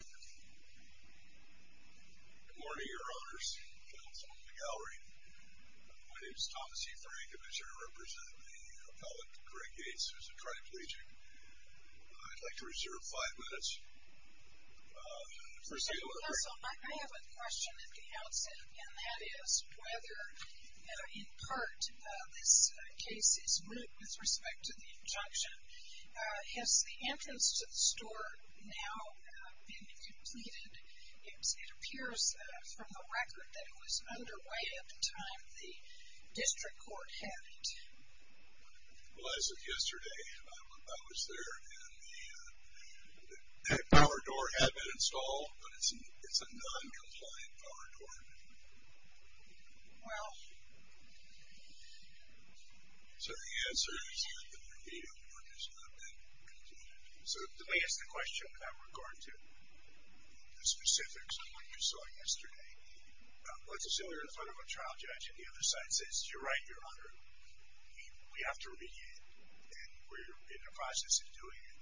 Good morning, your honors. My name is Thomas E. Frank. I'm here to represent the appellate, Greg Yates. It's a pleasure to meet you. I'd like to reserve five minutes. First of all, I have a question at the outset, and that is whether, in part, this case is moot with respect to the injunction. Has the entrance to the store now been completed? It appears from the record that it was under way at the time the district court had it. Well, as of yesterday, I was there, and the power door had been installed, but it's a noncompliant power door. Well. So the answer is yes, the power door has not been completed. So to answer the question with regard to the specifics of what you saw yesterday, let's assume you're in front of a trial judge, and the other side says, you're right, your honor, we have to remediate, and we're in the process of doing it.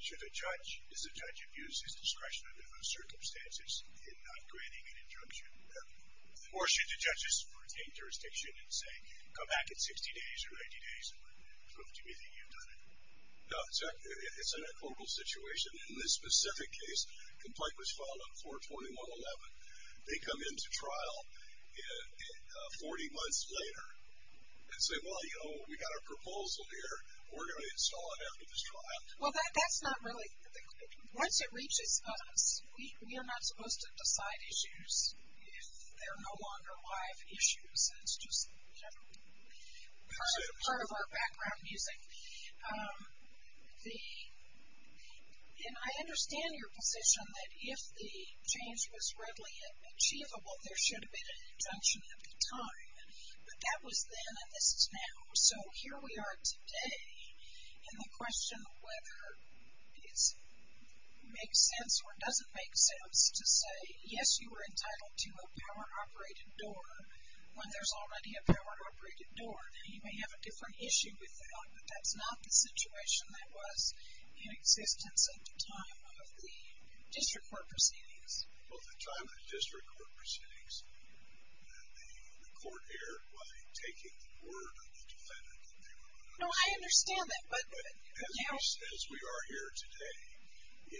Should a judge, does a judge abuse his discretion under those circumstances in not granting an injunction? Or should the judges retain jurisdiction and say, come back in 60 days or 90 days and prove to me that you've done it? No, it's in a global situation. In this specific case, the complaint was filed on 4-21-11. They come into trial 40 months later and say, well, you know, we've got a proposal here. We're going to install it after this trial. Well, that's not really, once it reaches us, we are not supposed to decide issues if they're no longer live issues, and it's just part of our background music. And I understand your position that if the change was readily achievable, there should have been an injunction at the time. But that was then, and this is now. So here we are today in the question of whether it makes sense or doesn't make sense to say, yes, you were entitled to a power-operated door when there's already a power-operated door. Now, you may have a different issue with that, but that's not the situation that was in existence at the time of the district court proceedings. Well, at the time of the district court proceedings, the court erred by taking the word of the defendant that they were going to install it. No, I understand that, but, you know. But as we are here today,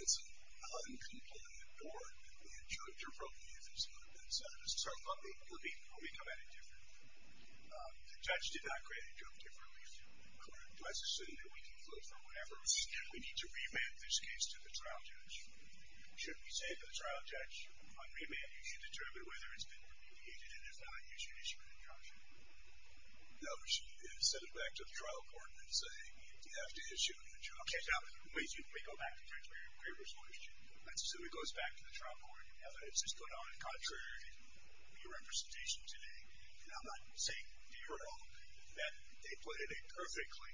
it's an uncomplimented board, and the injuncture from you has not been satisfied. So let me look at it differently. The judge did not create injunctive relief. Do I assume that we can live forever? We need to remand this case to the trial judge. Should we say to the trial judge, on remand, you can determine whether it's been communicated and if not, you should issue an injunction? No, we should send it back to the trial court and say, you have to issue an injunction. Okay. Now, we go back to the transparent waiver solution. So it goes back to the trial court. Evidence is put on contrary to your representation today, and I'm not saying, do you recall that they put in a perfectly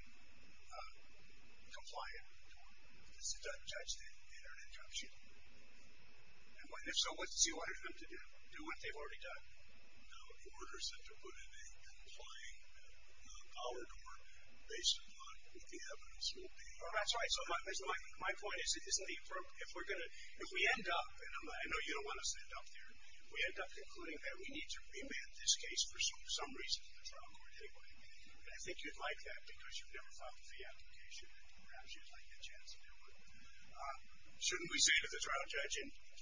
compliant report that the judge did in an injunction? And if so, what do you want them to do? Do what they've already done? The order said to put in a complying dollar form based on what the evidence will be. That's right. So my point is, if we end up, and I know you don't want to stand up there, if we end up concluding that we need to remand this case for some reason to the trial court anyway, and I think you'd like that because you've never filed a fee application, perhaps you'd like a chance to do it, shouldn't we say to the trial judge,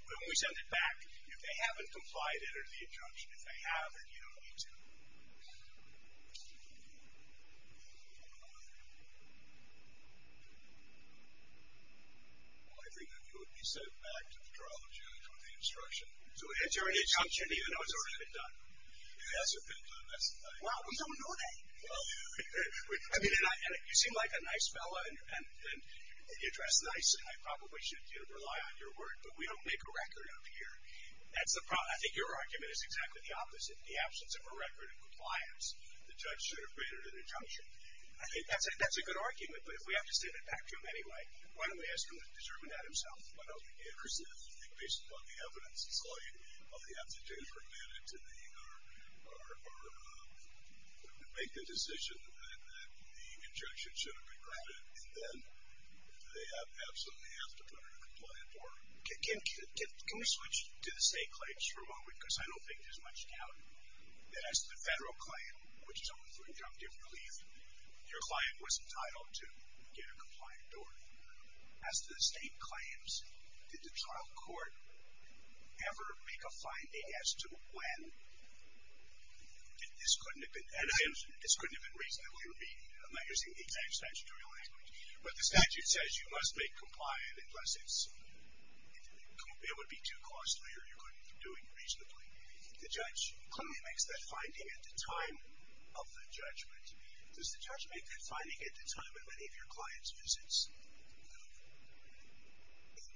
when we send it back, if they haven't complied, enter the injunction. If they have, then you don't need to. Well, I think that it would be sent back to the trial judge with the instruction. So enter an injunction even though it's already been done. It hasn't been done. That's the thing. Wow, we don't know that. I mean, you seem like a nice fellow, and you dress nice, and I probably should rely on your word, but we don't make a record of here. That's the problem. I think your argument is exactly the opposite. In the absence of a record of compliance, the judge should have made an injunction. I think that's a good argument, but if we have to send it back to him anyway, why don't we ask him to determine that himself? I think based upon the evidence, it's all you have to do for a minute to make the decision that the injunction should have been granted, and then they absolutely have to put in a compliant order. Can we switch to the state claims for a moment, because I don't think there's much doubt that as to the federal claim, which is only for the objective relief, your client was entitled to get a compliant order. As to the state claims, did the trial court ever make a finding as to when? This couldn't have been reasonably remedied. I'm not using the exact statutory language, but the statute says you must make compliant unless it's, it would be too costly or you couldn't do it reasonably. The judge claims that finding at the time of the judgment. Does the judge make a good finding at the time of any of your client's visits?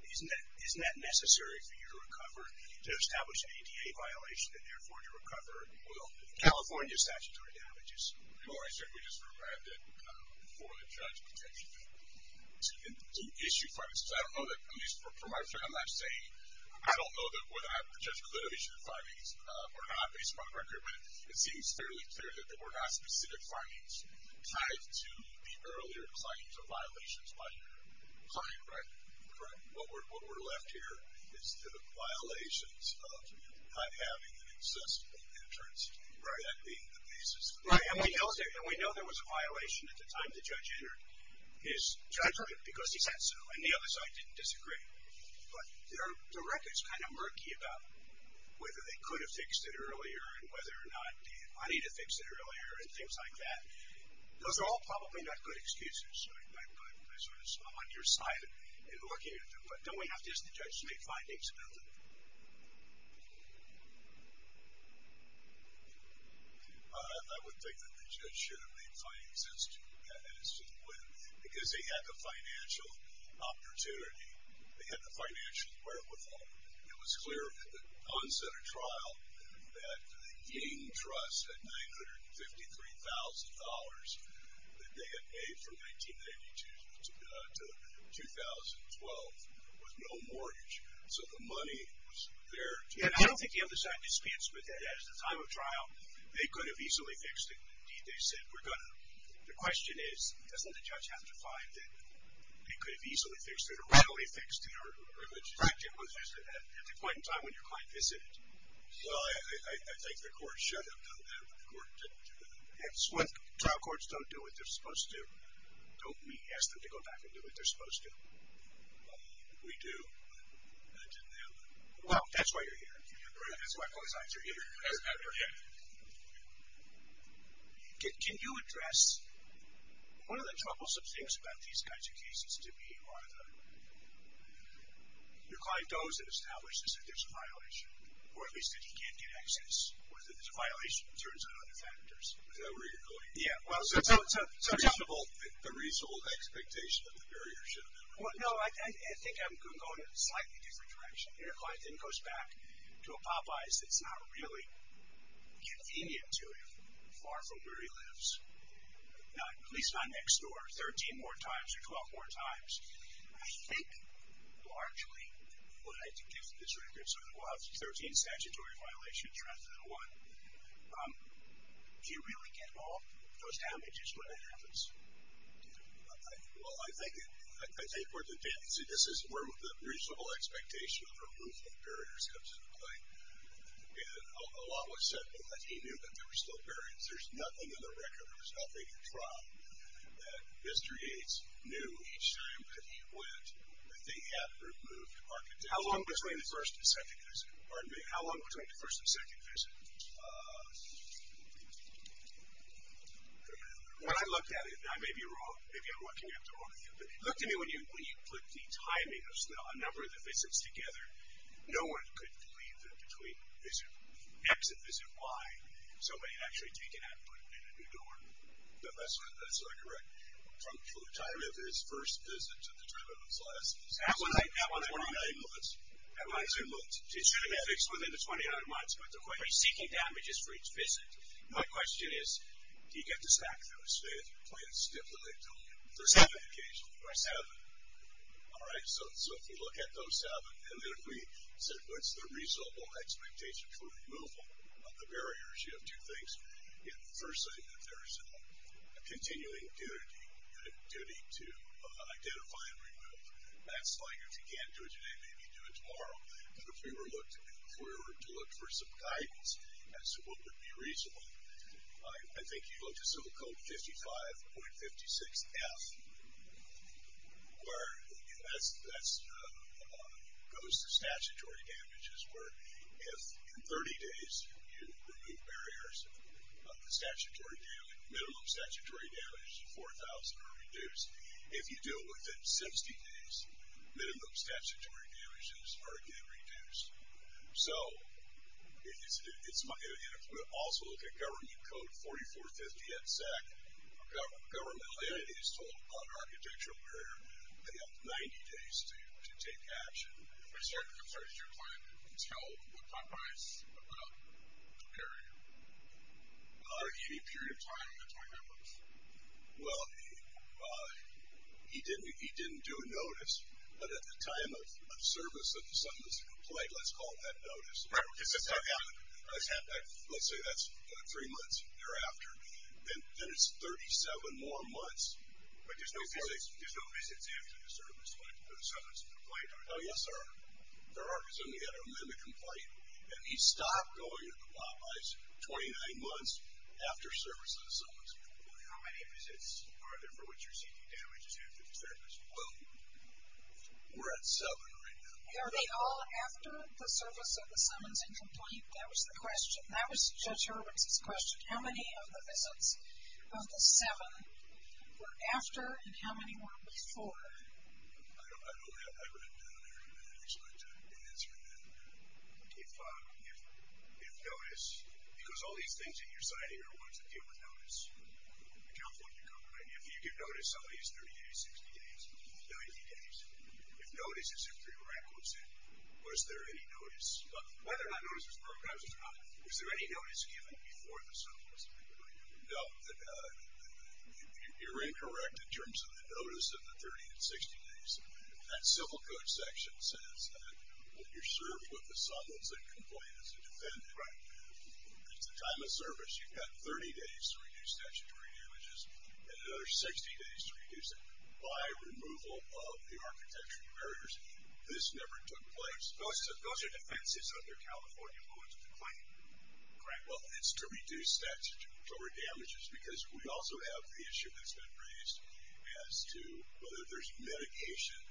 Isn't that necessary for you to recover, to establish an ADA violation, and therefore to recover California statutory damages? No, I said we just revamped it for the judge potentially to issue findings. I don't know that, at least from what I'm saying, I don't know that whether the judge could have issued findings or not, based upon the record, but it seems fairly clear that there were not specific findings tied to the earlier claims or violations by your client, right? Correct. What we're left here is the violations of not having an accessible entrance, that being the basis. Right, and we know there was a violation at the time the judge entered his judgment because he said so, and the other side didn't disagree. But the record's kind of murky about whether they could have fixed it earlier and whether or not they had money to fix it earlier and things like that. Those are all probably not good excuses. I'm on your side in looking at them, but don't we have to ask the judge to make findings about them? I would think that the judge should have made findings as to when, because they had the financial opportunity. They had the financial wherewithal. It was clear at the onset of trial that the Ying Trust had $953,000 that they had paid from 1992 to 2012 with no mortgage. So the money was there. And I don't think the other side dispensed with that. At the time of trial, they could have easily fixed it. Indeed, they said we're going to. The question is, doesn't the judge have to find that they could have easily fixed it or readily fixed it at the point in time when your client visited? Well, I think the court should have done that, but the court didn't do that. And trial courts don't do what they're supposed to. Don't we ask them to go back and do what they're supposed to? We do. I didn't know that. Well, that's why you're here. That's why police officers are here. Can you address one of the troublesome things about these kinds of cases to me? Your client knows and establishes that there's a violation, or at least that he can't get access, or that there's a violation that turns on other factors. Is that where you're going? Yeah. The reasonable expectation of the barrier should have been removed. No, I think I'm going in a slightly different direction. Your client then goes back to a Popeye's that's not really convenient to him, far from where he lives. Not at least not next door 13 more times or 12 more times. I think largely what I can give from this record, so there were 13 statutory violations rather than one, do you really get all those damages when it happens? Well, I think this is where the reasonable expectation of removing barriers comes into play. And a lot was said, but he knew that there were still barriers. There's nothing in the record, there's nothing in trial, that Mr. Yates knew each time that he went that they had removed architecture. How long between the first and second visit? Pardon me? How long between the first and second visit? When I looked at it, and I may be wrong, maybe I'm looking at the wrong thing, but it looked to me when you put the timing of a number of the visits together, no one could believe that between exit visit Y, somebody had actually taken that and put it in a new door. That's sort of correct. From the timing of his first visit to the terminal's last visit. That one's 29 minutes. That one's 2 minutes. It should have been fixed within the 29 minutes, but they're going to be seeking damages for each visit. My question is, do you get this back? I would say it's quite a stiff limitation. For seven? For seven. All right. So if you look at those seven, and then if we said what's the reasonable expectation for removal of the barriers, you have two things. First, there's a continuing duty to identify and remove. That's like if you can't do it today, maybe do it tomorrow. If we were to look for some guidance as to what would be reasonable, I think you'd look to so-called 55.56F, where that goes to statutory damages, where if in 30 days you remove barriers, the minimum statutory damage of 4,000 are reduced. If you do it within 70 days, minimum statutory damages are again reduced. So if we also look at government code 44.50 at SAC, governmental entity is told on architectural barrier, they have 90 days to take action. I'm sorry, did your client tell the compromise about the barrier? Any period of time, the 29 minutes? Well, he didn't do a notice, but at the time of service of the summons and complaint, let's call that notice. Right. Let's say that's three months thereafter. Then it's 37 more months. But there's no visits after the service of the summons and complaint. Oh, yes, there are. There are. So he had an amendment complaint, and he stopped going to the compromise 29 months after service of the summons and complaint. How many visits are there for which you're seeking damages after the service? Well, we're at seven right now. Are they all after the service of the summons and complaint? That was the question. That was Judge Irwin's question. How many of the visits of the seven were after, and how many were before? I don't have that written down there, but I expect an answer in that. If notice, because all these things in your signing are ones that deal with notice, the complaint you're covering, if you give notice, some of these 30 days, 60 days, 90 days, if notice is in three brackets, was there any notice? Whether or not notice was broken, I was just wondering, was there any notice given before the summons and complaint? No. You're incorrect in terms of the notice of the 30 and 60 days. That civil code section says that you're served with the summons and complaint as a defendant. Right. At the time of service, you've got 30 days to reduce statutory damages and another 60 days to reduce them. By removal of the architectural barriers, this never took place. Those are defenses under California Laws of the Claim. Correct. Well, it's to reduce statutory damages because we also have the issue that's been raised as to whether there's mitigation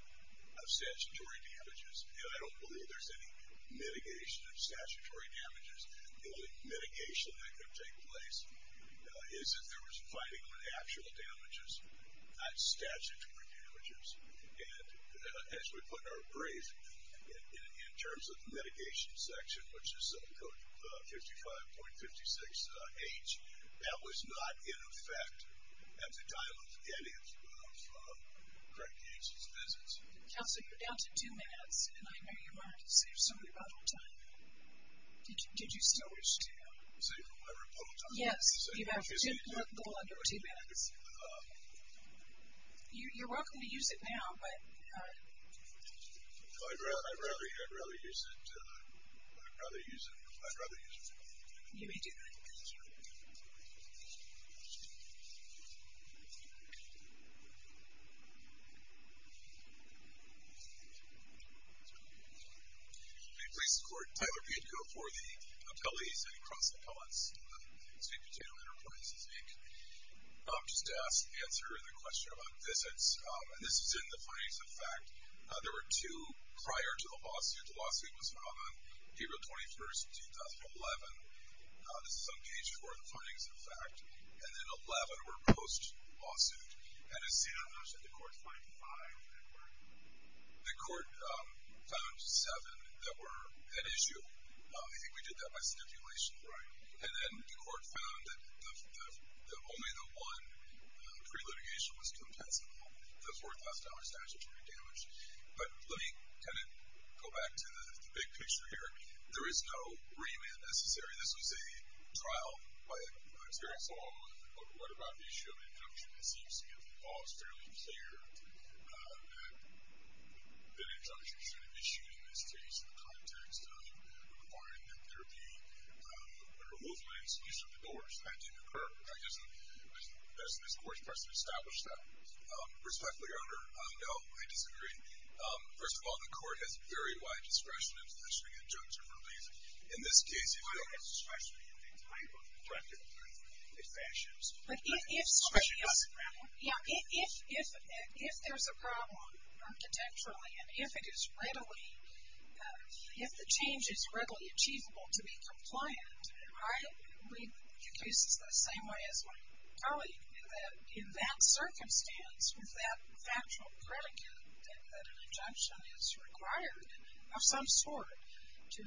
of statutory damages. And I don't believe there's any mitigation of statutory damages. The only mitigation that could take place is if there was fighting on actual damages, not statutory damages. And as we put in our brief, in terms of the mitigation section, which is civil code 55.56H, that was not in effect at the time of the end of Craig Keese's visits. Counselor, you're down to two minutes, and I know you want to save some of your final time. Did you still wish to? Save my final time? Yes. You have a little under two minutes. You're welcome to use it now, but. I'd rather use it. I'd rather use it. I'd rather use it. You may do that. Thank you. May it please the Court. Tyler Pietko for the appellees and across the palace. State Patrol Enterprises Inc. Just to answer the question about visits, and this is in the findings of fact, there were two prior to the lawsuit. The lawsuit was filed on April 21, 2011. This is on page four of the findings of fact. And then 11 were post-lawsuit. And as soon as the court found five that were, the court found seven that were at issue. I think we did that by stipulation. Right. And then the court found that only the one pre-litigation was compensable, the $4,000 statutory damage. But let me kind of go back to the big picture here. There is no remand necessary. This was a trial by a jury. So what about the issue of injunction? It seems to me the law is fairly clear that an injunction should have issued, in this case, in the context of requiring that there be a removal and substitution of the doors. That didn't occur. Does this court request to establish that? Respectfully, Your Honor, no. I disagree. First of all, the court has very wide discretion in positioning injunctions. In this case, if you'll. I have discretion in the type of injunctions, in the fashions of the injunctions. Yeah. If there's a problem architecturally, and if it is readily, if the change is readily achievable to be compliant, I believe the case is the same way as my colleague, that in that circumstance, with that factual predicate, that an injunction is required of some sort to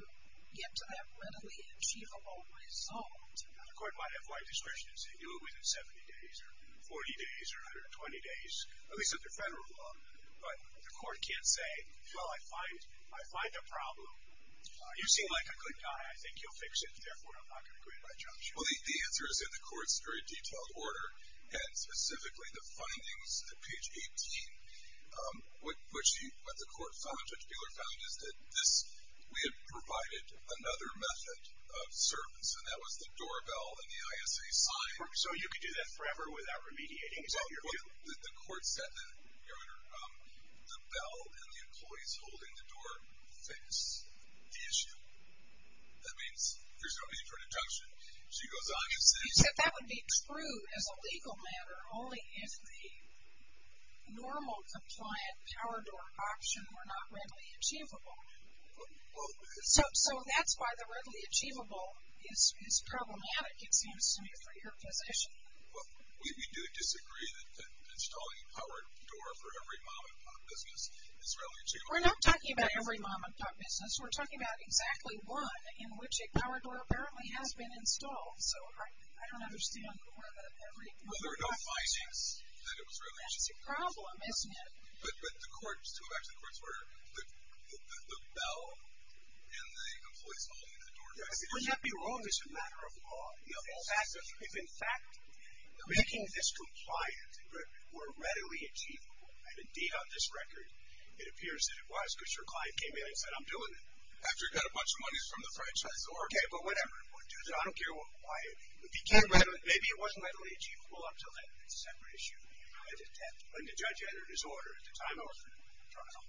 get to that readily achievable result. The court might have wide discretion to say, do it within 70 days or 40 days or 120 days, at least under federal law. But the court can't say, well, I find a problem. You seem like a good guy. I think you'll fix it. Therefore, I'm not going to agree to my judgment. Well, the answer is in the court's very detailed order, and specifically the findings at page 18. What the court found, Judge Buehler found, is that we had provided another method of service, and that was the doorbell and the ISA sign. So you could do that forever without remediating. Is that your view? Well, the court said that, Your Honor, the bell and the employees holding the door fix the issue. That means there's no need for an injunction. She goes on and says. You said that would be true as a legal matter only if the normal compliant power door option were not readily achievable. So that's why the readily achievable is problematic, it seems to me, for your position. Well, we do disagree that installing a power door for every mom-and-pop business is readily achievable. We're not talking about every mom-and-pop business. We're talking about exactly one in which a power door apparently has been installed. So I don't understand the requirement of every mom-and-pop business. Well, there are no findings that it was readily achievable. That's a problem, isn't it? But the court's two of action courts were the bell and the employees holding the door fix the issue. It would not be wrong as a matter of law. If, in fact, making this compliant were readily achievable, and indeed on this record it appears that it was because your client came in and said, I'm doing it. After he got a bunch of money from the franchise. Okay, but whatever. We'll do that. I don't care why. Maybe it wasn't readily achievable up until then. That's a separate issue. When the judge entered his order at the time of trial.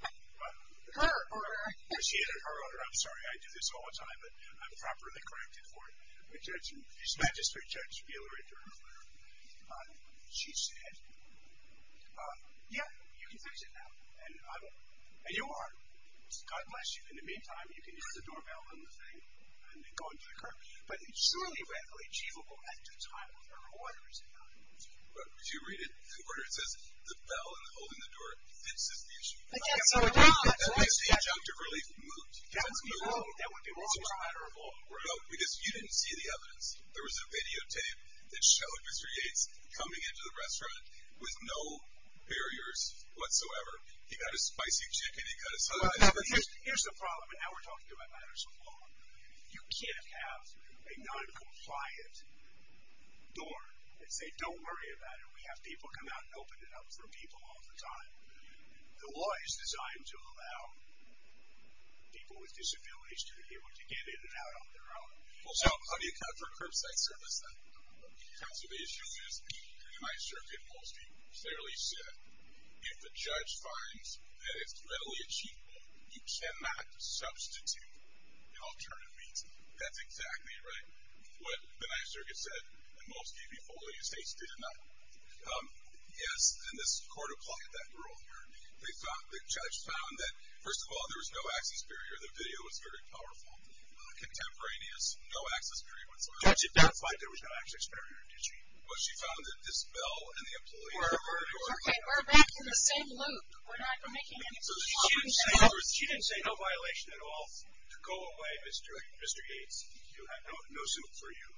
Her order. When she entered her order. I'm sorry. I do this all the time, but I'm properly corrected for it. When the magistrate judge revealed her internal letter, she said, yeah, you can fix it now. And you are. God bless you. In the meantime, you can use the doorbell and the thing and go and check her. But it's surely readily achievable at the time of her order. But did you read it? The order says the bell and the holding the door fixes the issue. I can't see the bell. That would be wrong. That would be wrong as a matter of law. Because you didn't see the evidence. There was a videotape that Shelly Fisher Yates coming into the restaurant with no barriers whatsoever. He got a spicy chicken and cut a slice. Here's the problem. And now we're talking about matters of law. You can't have a noncompliant door and say don't worry about it. We have people come out and open it up for people all the time. The law is designed to allow people with disabilities to be able to get in and out on their own. So how do you account for curbside service then? So the issue is, the Ninth Circuit mostly fairly said, if the judge finds that it's readily achievable, you cannot substitute in alternative means. That's exactly right, what the Ninth Circuit said, and most people in these states did not. Yes, and this court applied that rule. The judge found that, first of all, there was no access barrier. The video was very powerful. Contemporaneous, no access barrier whatsoever. The judge identified there was no access barrier, did she? Well, she found that this bell and the employees were working on it. Okay, we're back in the same loop. We're not making any problems at all. She didn't say no violation at all to go away, Mr. Yates. No suit for you.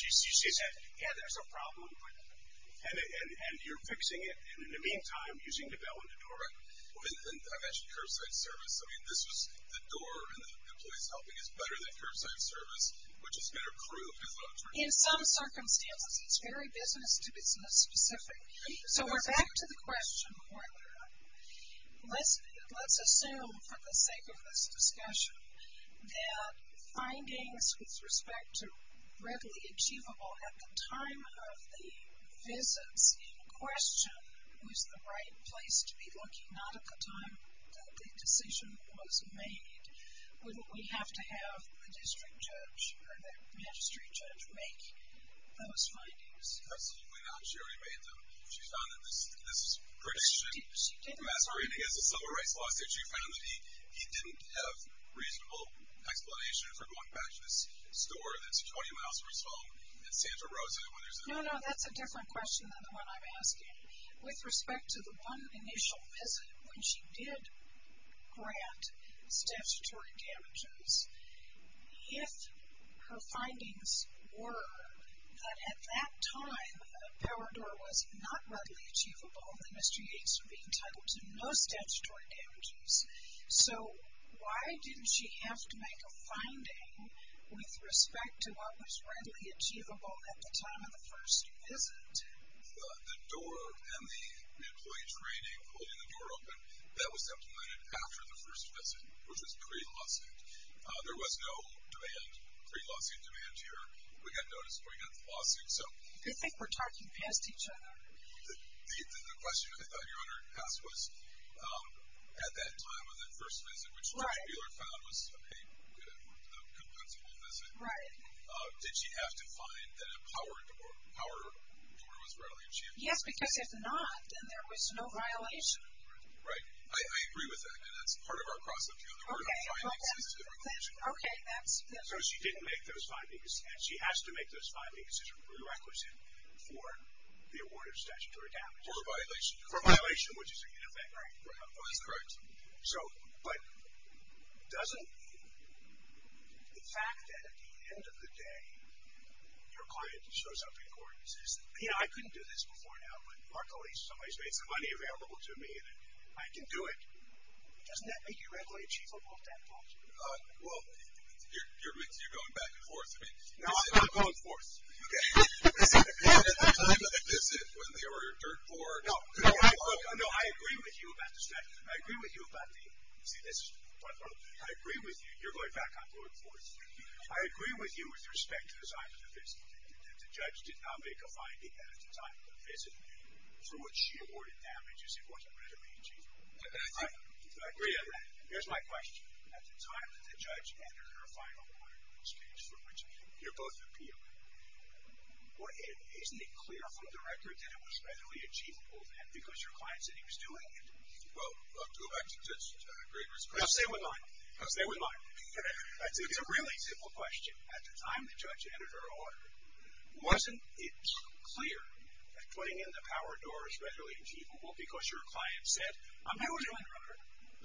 She said, yeah, there's a problem, and you're fixing it. In the meantime, using the bell and the door, and I mentioned curbside service, I mean, this is the door and the employees helping is better than curbside service, which is better proved as an alternative. In some circumstances, it's very business-to-business specific. So we're back to the question. Let's assume for the sake of this discussion that findings with respect to readily achievable at the time of the visits in question was the right place to be looking, and not at the time that the decision was made, wouldn't we have to have the district judge or the magistrate judge make those findings? Absolutely not. She already made them. She found that this prediction masquerading as a civil rights lawsuit, she found that he didn't have reasonable explanation for going back to this store that's 20 miles from his home in Santa Rosa. No, no, that's a different question than the one I'm asking. With respect to the one initial visit when she did grant statutory damages, if her findings were that at that time, a power door was not readily achievable, then Mr. Yates would be entitled to no statutory damages. So why didn't she have to make a finding with respect to what was readily achievable at the time of the first visit? Because the door and the employee training, holding the door open, that was implemented after the first visit, which was pre-lawsuit. There was no demand, pre-lawsuit demand here. We got notice before we got the lawsuit. I think we're talking past each other. The question I thought you were going to ask was at that time of the first visit, which Judge Buehler found was a compensable visit, did she have to find that a power door was readily achievable? Yes, because if not, then there was no violation. Right. I agree with that, and that's part of our cross-opinion. There were no findings since the regulation. Okay, that's good. So she didn't make those findings, and she has to make those findings as a prerequisite for the award of statutory damages. For a violation. For a violation, which is in effect. That's correct. But doesn't the fact that at the end of the day, your client shows up in court and says, you know, I couldn't do this before now, but luckily somebody's made some money available to me and I can do it, doesn't that make you readily achievable at that point? Well, you're going back and forth. No, I'm not going forth. At the time of the visit, when there were dirt boards. No, I agree with you about the statute. I agree with you about the, see this, I agree with you, you're going back, I'm going forth. I agree with you with respect to the time of the visit, that the judge did not make a finding at the time of the visit for which she awarded damages if it wasn't readily achievable. I agree on that. Here's my question. At the time that the judge entered her final order, which came from which you're both appealing, isn't it clear from the record that it was readily achievable then, because your client said he was doing it? Well, I'll go back to Judge Greger's question. No, stay with mine. Stay with mine. It's a really simple question. At the time the judge entered her order, wasn't it clear that putting in the power door is readily achievable because your client said I'm doing it?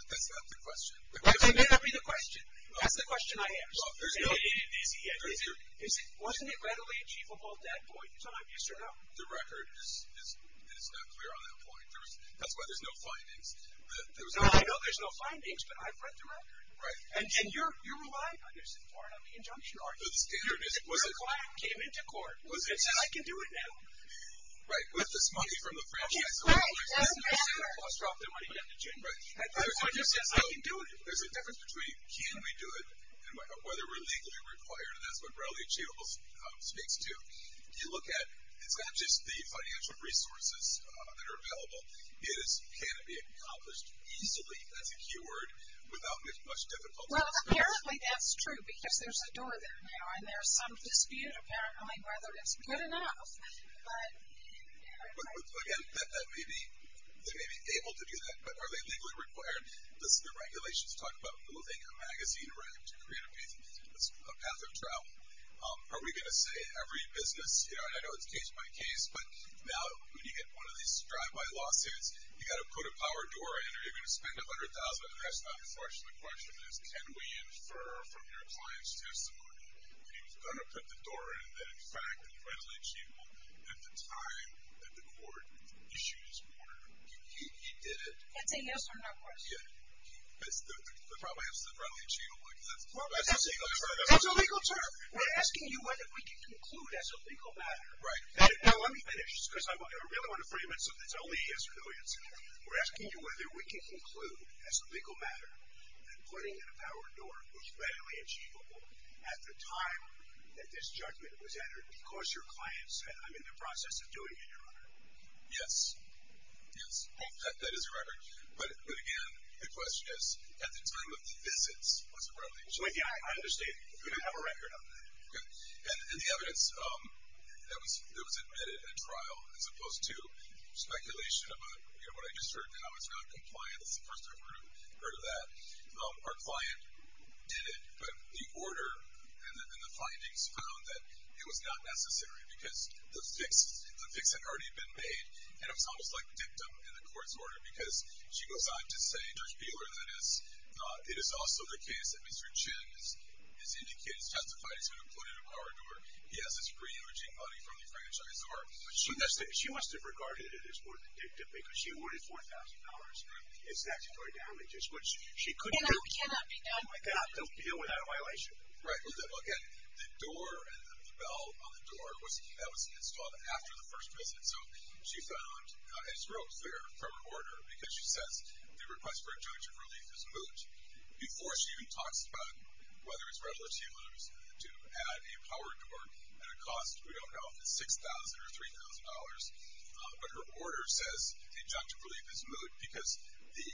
That's not the question. That may not be the question. That's the question I asked. Isn't it readily achievable at that point in time, yes or no? The record is not clear on that point. That's why there's no findings. No, I know there's no findings, but I've read the record. And you're reliant on your support on the injunction, aren't you? Your client came into court and said I can do it now. Right. With this money from the franchise. Right. I'll drop the money down to June. I can do it. There's a difference between can we do it and whether we're legally required, and that's what readily achievable speaks to. You look at it's not just the financial resources that are available. It is can it be accomplished easily, that's a key word, without much difficulty. Well, apparently that's true because there's a door there now, and there's some dispute apparently whether it's good enough. Again, they may be able to do that, but are they legally required? Does the regulations talk about moving a magazine around to create a path of travel? Are we going to say every business, and I know it's case by case, but now when you get one of these drive-by lawsuits, you've got to put a power door in, or you're going to spend $100,000 on the restaurant. Unfortunately, the question is can we infer from your client's testimony that he was going to put the door in that, in fact, readily achievable at the time that the court issued his order. He did it. That's a yes or no question. Yeah. The problem is it's readily achievable. That's a legal term. We're asking you whether we can conclude as a legal matter. Right. Now let me finish because I really want to frame it so it's only yes or no answer. We're asking you whether we can conclude as a legal matter that putting in a power door was readily achievable at the time that this judgment was entered because your client said, I'm in the process of doing it, Your Honor. Yes. Yes. That is a record. But, again, the question is at the time of the visits was it readily achievable? I understand. We don't have a record on that. Okay. And the evidence that was admitted in a trial as opposed to speculation about, you know, what I just heard now is not compliant. This is the first I've heard of that. Our client did it, but the order and the findings found that it was not necessary because the fix had already been made, and it was almost like dictum in the court's order because she goes on to say, It is also the case that Mr. Chin has testified he's been included in a power door. He has his free emerging money from the franchise, but she must have regarded it as more than dictum because she wanted $4,000 for his statutory damages, which she couldn't have done without a violation. Right. Well, again, the door and the bell on the door, that was installed after the first visit. So she found a stroke there from her order because she says the request for injunctive relief is moot. Before she even talks about whether it's readily achievable to add a power door at a cost we don't know if it's $6,000 or $3,000, but her order says injunctive relief is moot because the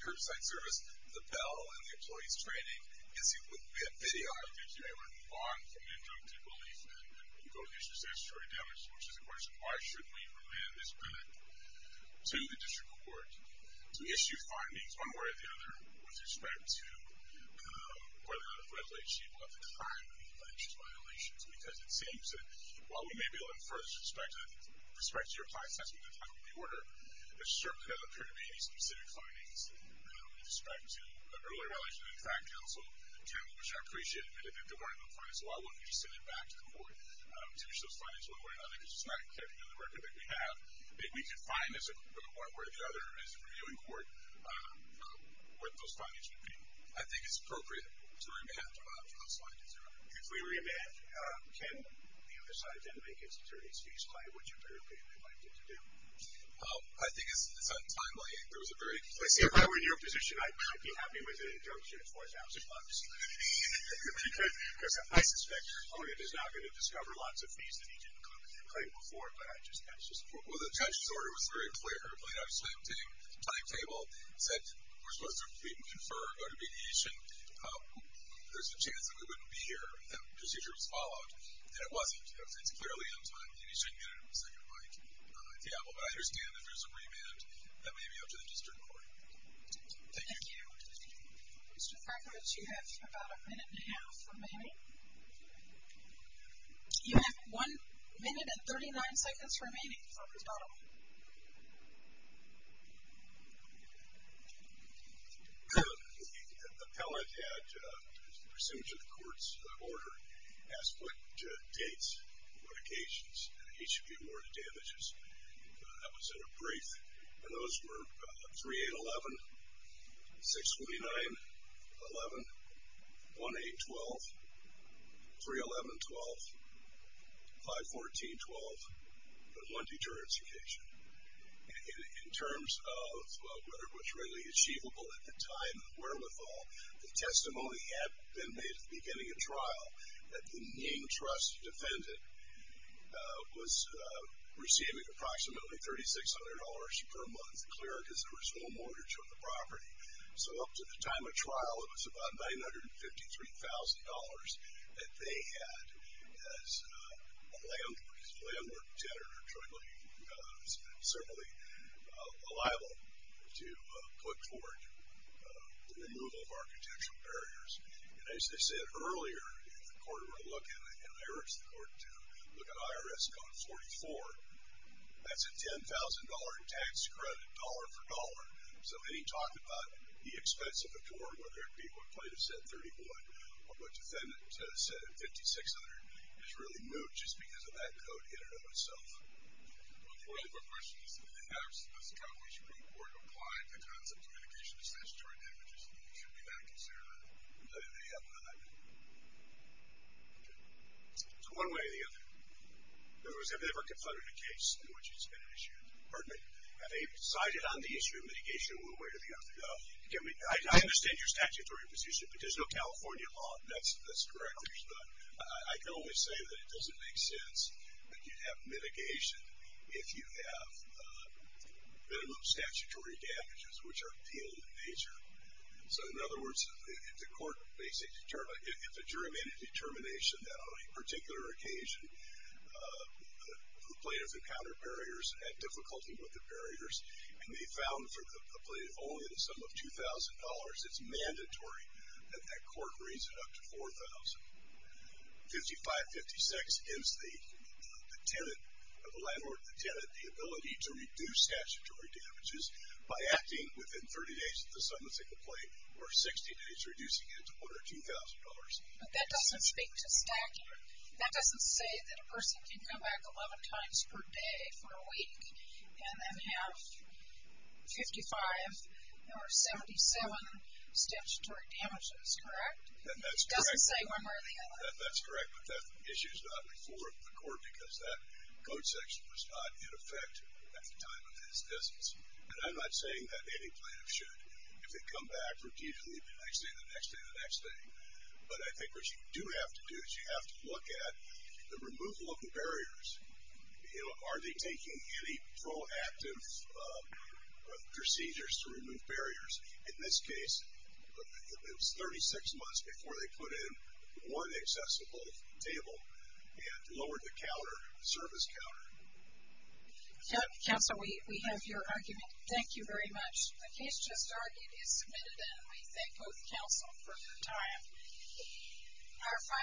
curbside service, the bell, and the employee's training gives you a video. It gives you a way to move on from injunctive relief and go to the issue of statutory damages, which is a question of why should we remand this permit to the district court to issue findings one way or the other with respect to whether it's readily achievable at the time of the alleged violations because it seems that while we may be able to infer the respect to your client's testimony at the time of the order, there certainly doesn't appear to be any specific findings with respect to the earlier violation in the fact council, which I appreciate. If it weren't in the fact council, I wouldn't be sending it back to the court to issue those findings one way or another because it's not kept in the record that we have. If we could find as one way or the other as a reviewing court what those findings would be, I think it's appropriate to remand. I'll slide to zero. If we remand, can the other side then make its attorney's case by which of their opinion they'd like it to do? I think it's untimely. If I were in your position, I'd be happy with an injunction of $4,000 because I suspect your opponent is not going to discover lots of things that he didn't claim before, but I just can't support it. Well, the judge's order was very clear. The plaintiff's timetable said we're supposed to plead and confer, go to mediation. There's a chance that we wouldn't be here if that procedure was followed, and it wasn't. It's clearly untimely, and he shouldn't get it in the second mind. Yeah, well, but I understand that there's a remand. That may be up to the district court. Thank you. Thank you. Mr. Krakovich, you have about a minute and a half remaining. You have one minute and 39 seconds remaining for rebuttal. The appellate had, pursuant to the court's order, asked what dates, what occasions, and he should be awarded damages. That was in a brief, and those were 3-8-11, 6-49-11, 1-8-12, 3-11-12, 5-14-12, but one deterrence occasion. In terms of whether it was really achievable at the time of the wherewithal, the testimony had been made at the beginning of trial that the Nying trust defendant was receiving approximately $3,600 per month, clear because there was no mortgage on the property. So up to the time of trial, it was about $953,000 that they had As a landlord, as a landlord tender, it's certainly liable to put forward the removal of architectural barriers. And as they said earlier, if the court were to look at IRS, the court to look at IRS code 44, that's a $10,000 tax credit, dollar for dollar. Whether it be what plaintiff said, $31,000, or what defendant said, $5,600, it's really moot just because of that code in and of itself. One more question is, if the IRS Accomplishment Group were to apply the concept of mitigation to statutory damages, should we not consider it? They have not. So one way or the other. In other words, have they ever confronted a case in which it's been issued? Pardon me. Have they decided on the issue of mitigation one way or the other? I understand your statutory position, but there's no California law. That's correct. I can only say that it doesn't make sense that you have mitigation if you have minimum statutory damages, which are appealed in nature. So, in other words, if a jury made a determination that on a particular occasion the plaintiff only had a sum of $2,000, it's mandatory that that court raise it up to $4,000. 55-56 gives the landlord or the tenant the ability to reduce statutory damages by acting within 30 days of the sum of the complaint, or 60 days reducing it to $1,000 or $2,000. But that doesn't speak to stacking. That doesn't say that a person can come back 11 times per day for a week and then have 55 or 77 statutory damages, correct? That's correct. It doesn't say one way or the other. That's correct, but that issue is not before the court because that code section was not in effect at the time of this instance. And I'm not saying that any plaintiff should, if they come back repeatedly the next day, the next day, the next day. But I think what you do have to do is you have to look at the removal of the barriers. Are they taking any proactive procedures to remove barriers? In this case, it was 36 months before they put in one accessible table and lowered the service counter. Counsel, we have your argument. Thank you very much. The case just argued is submitted, and we thank both counsel for your time.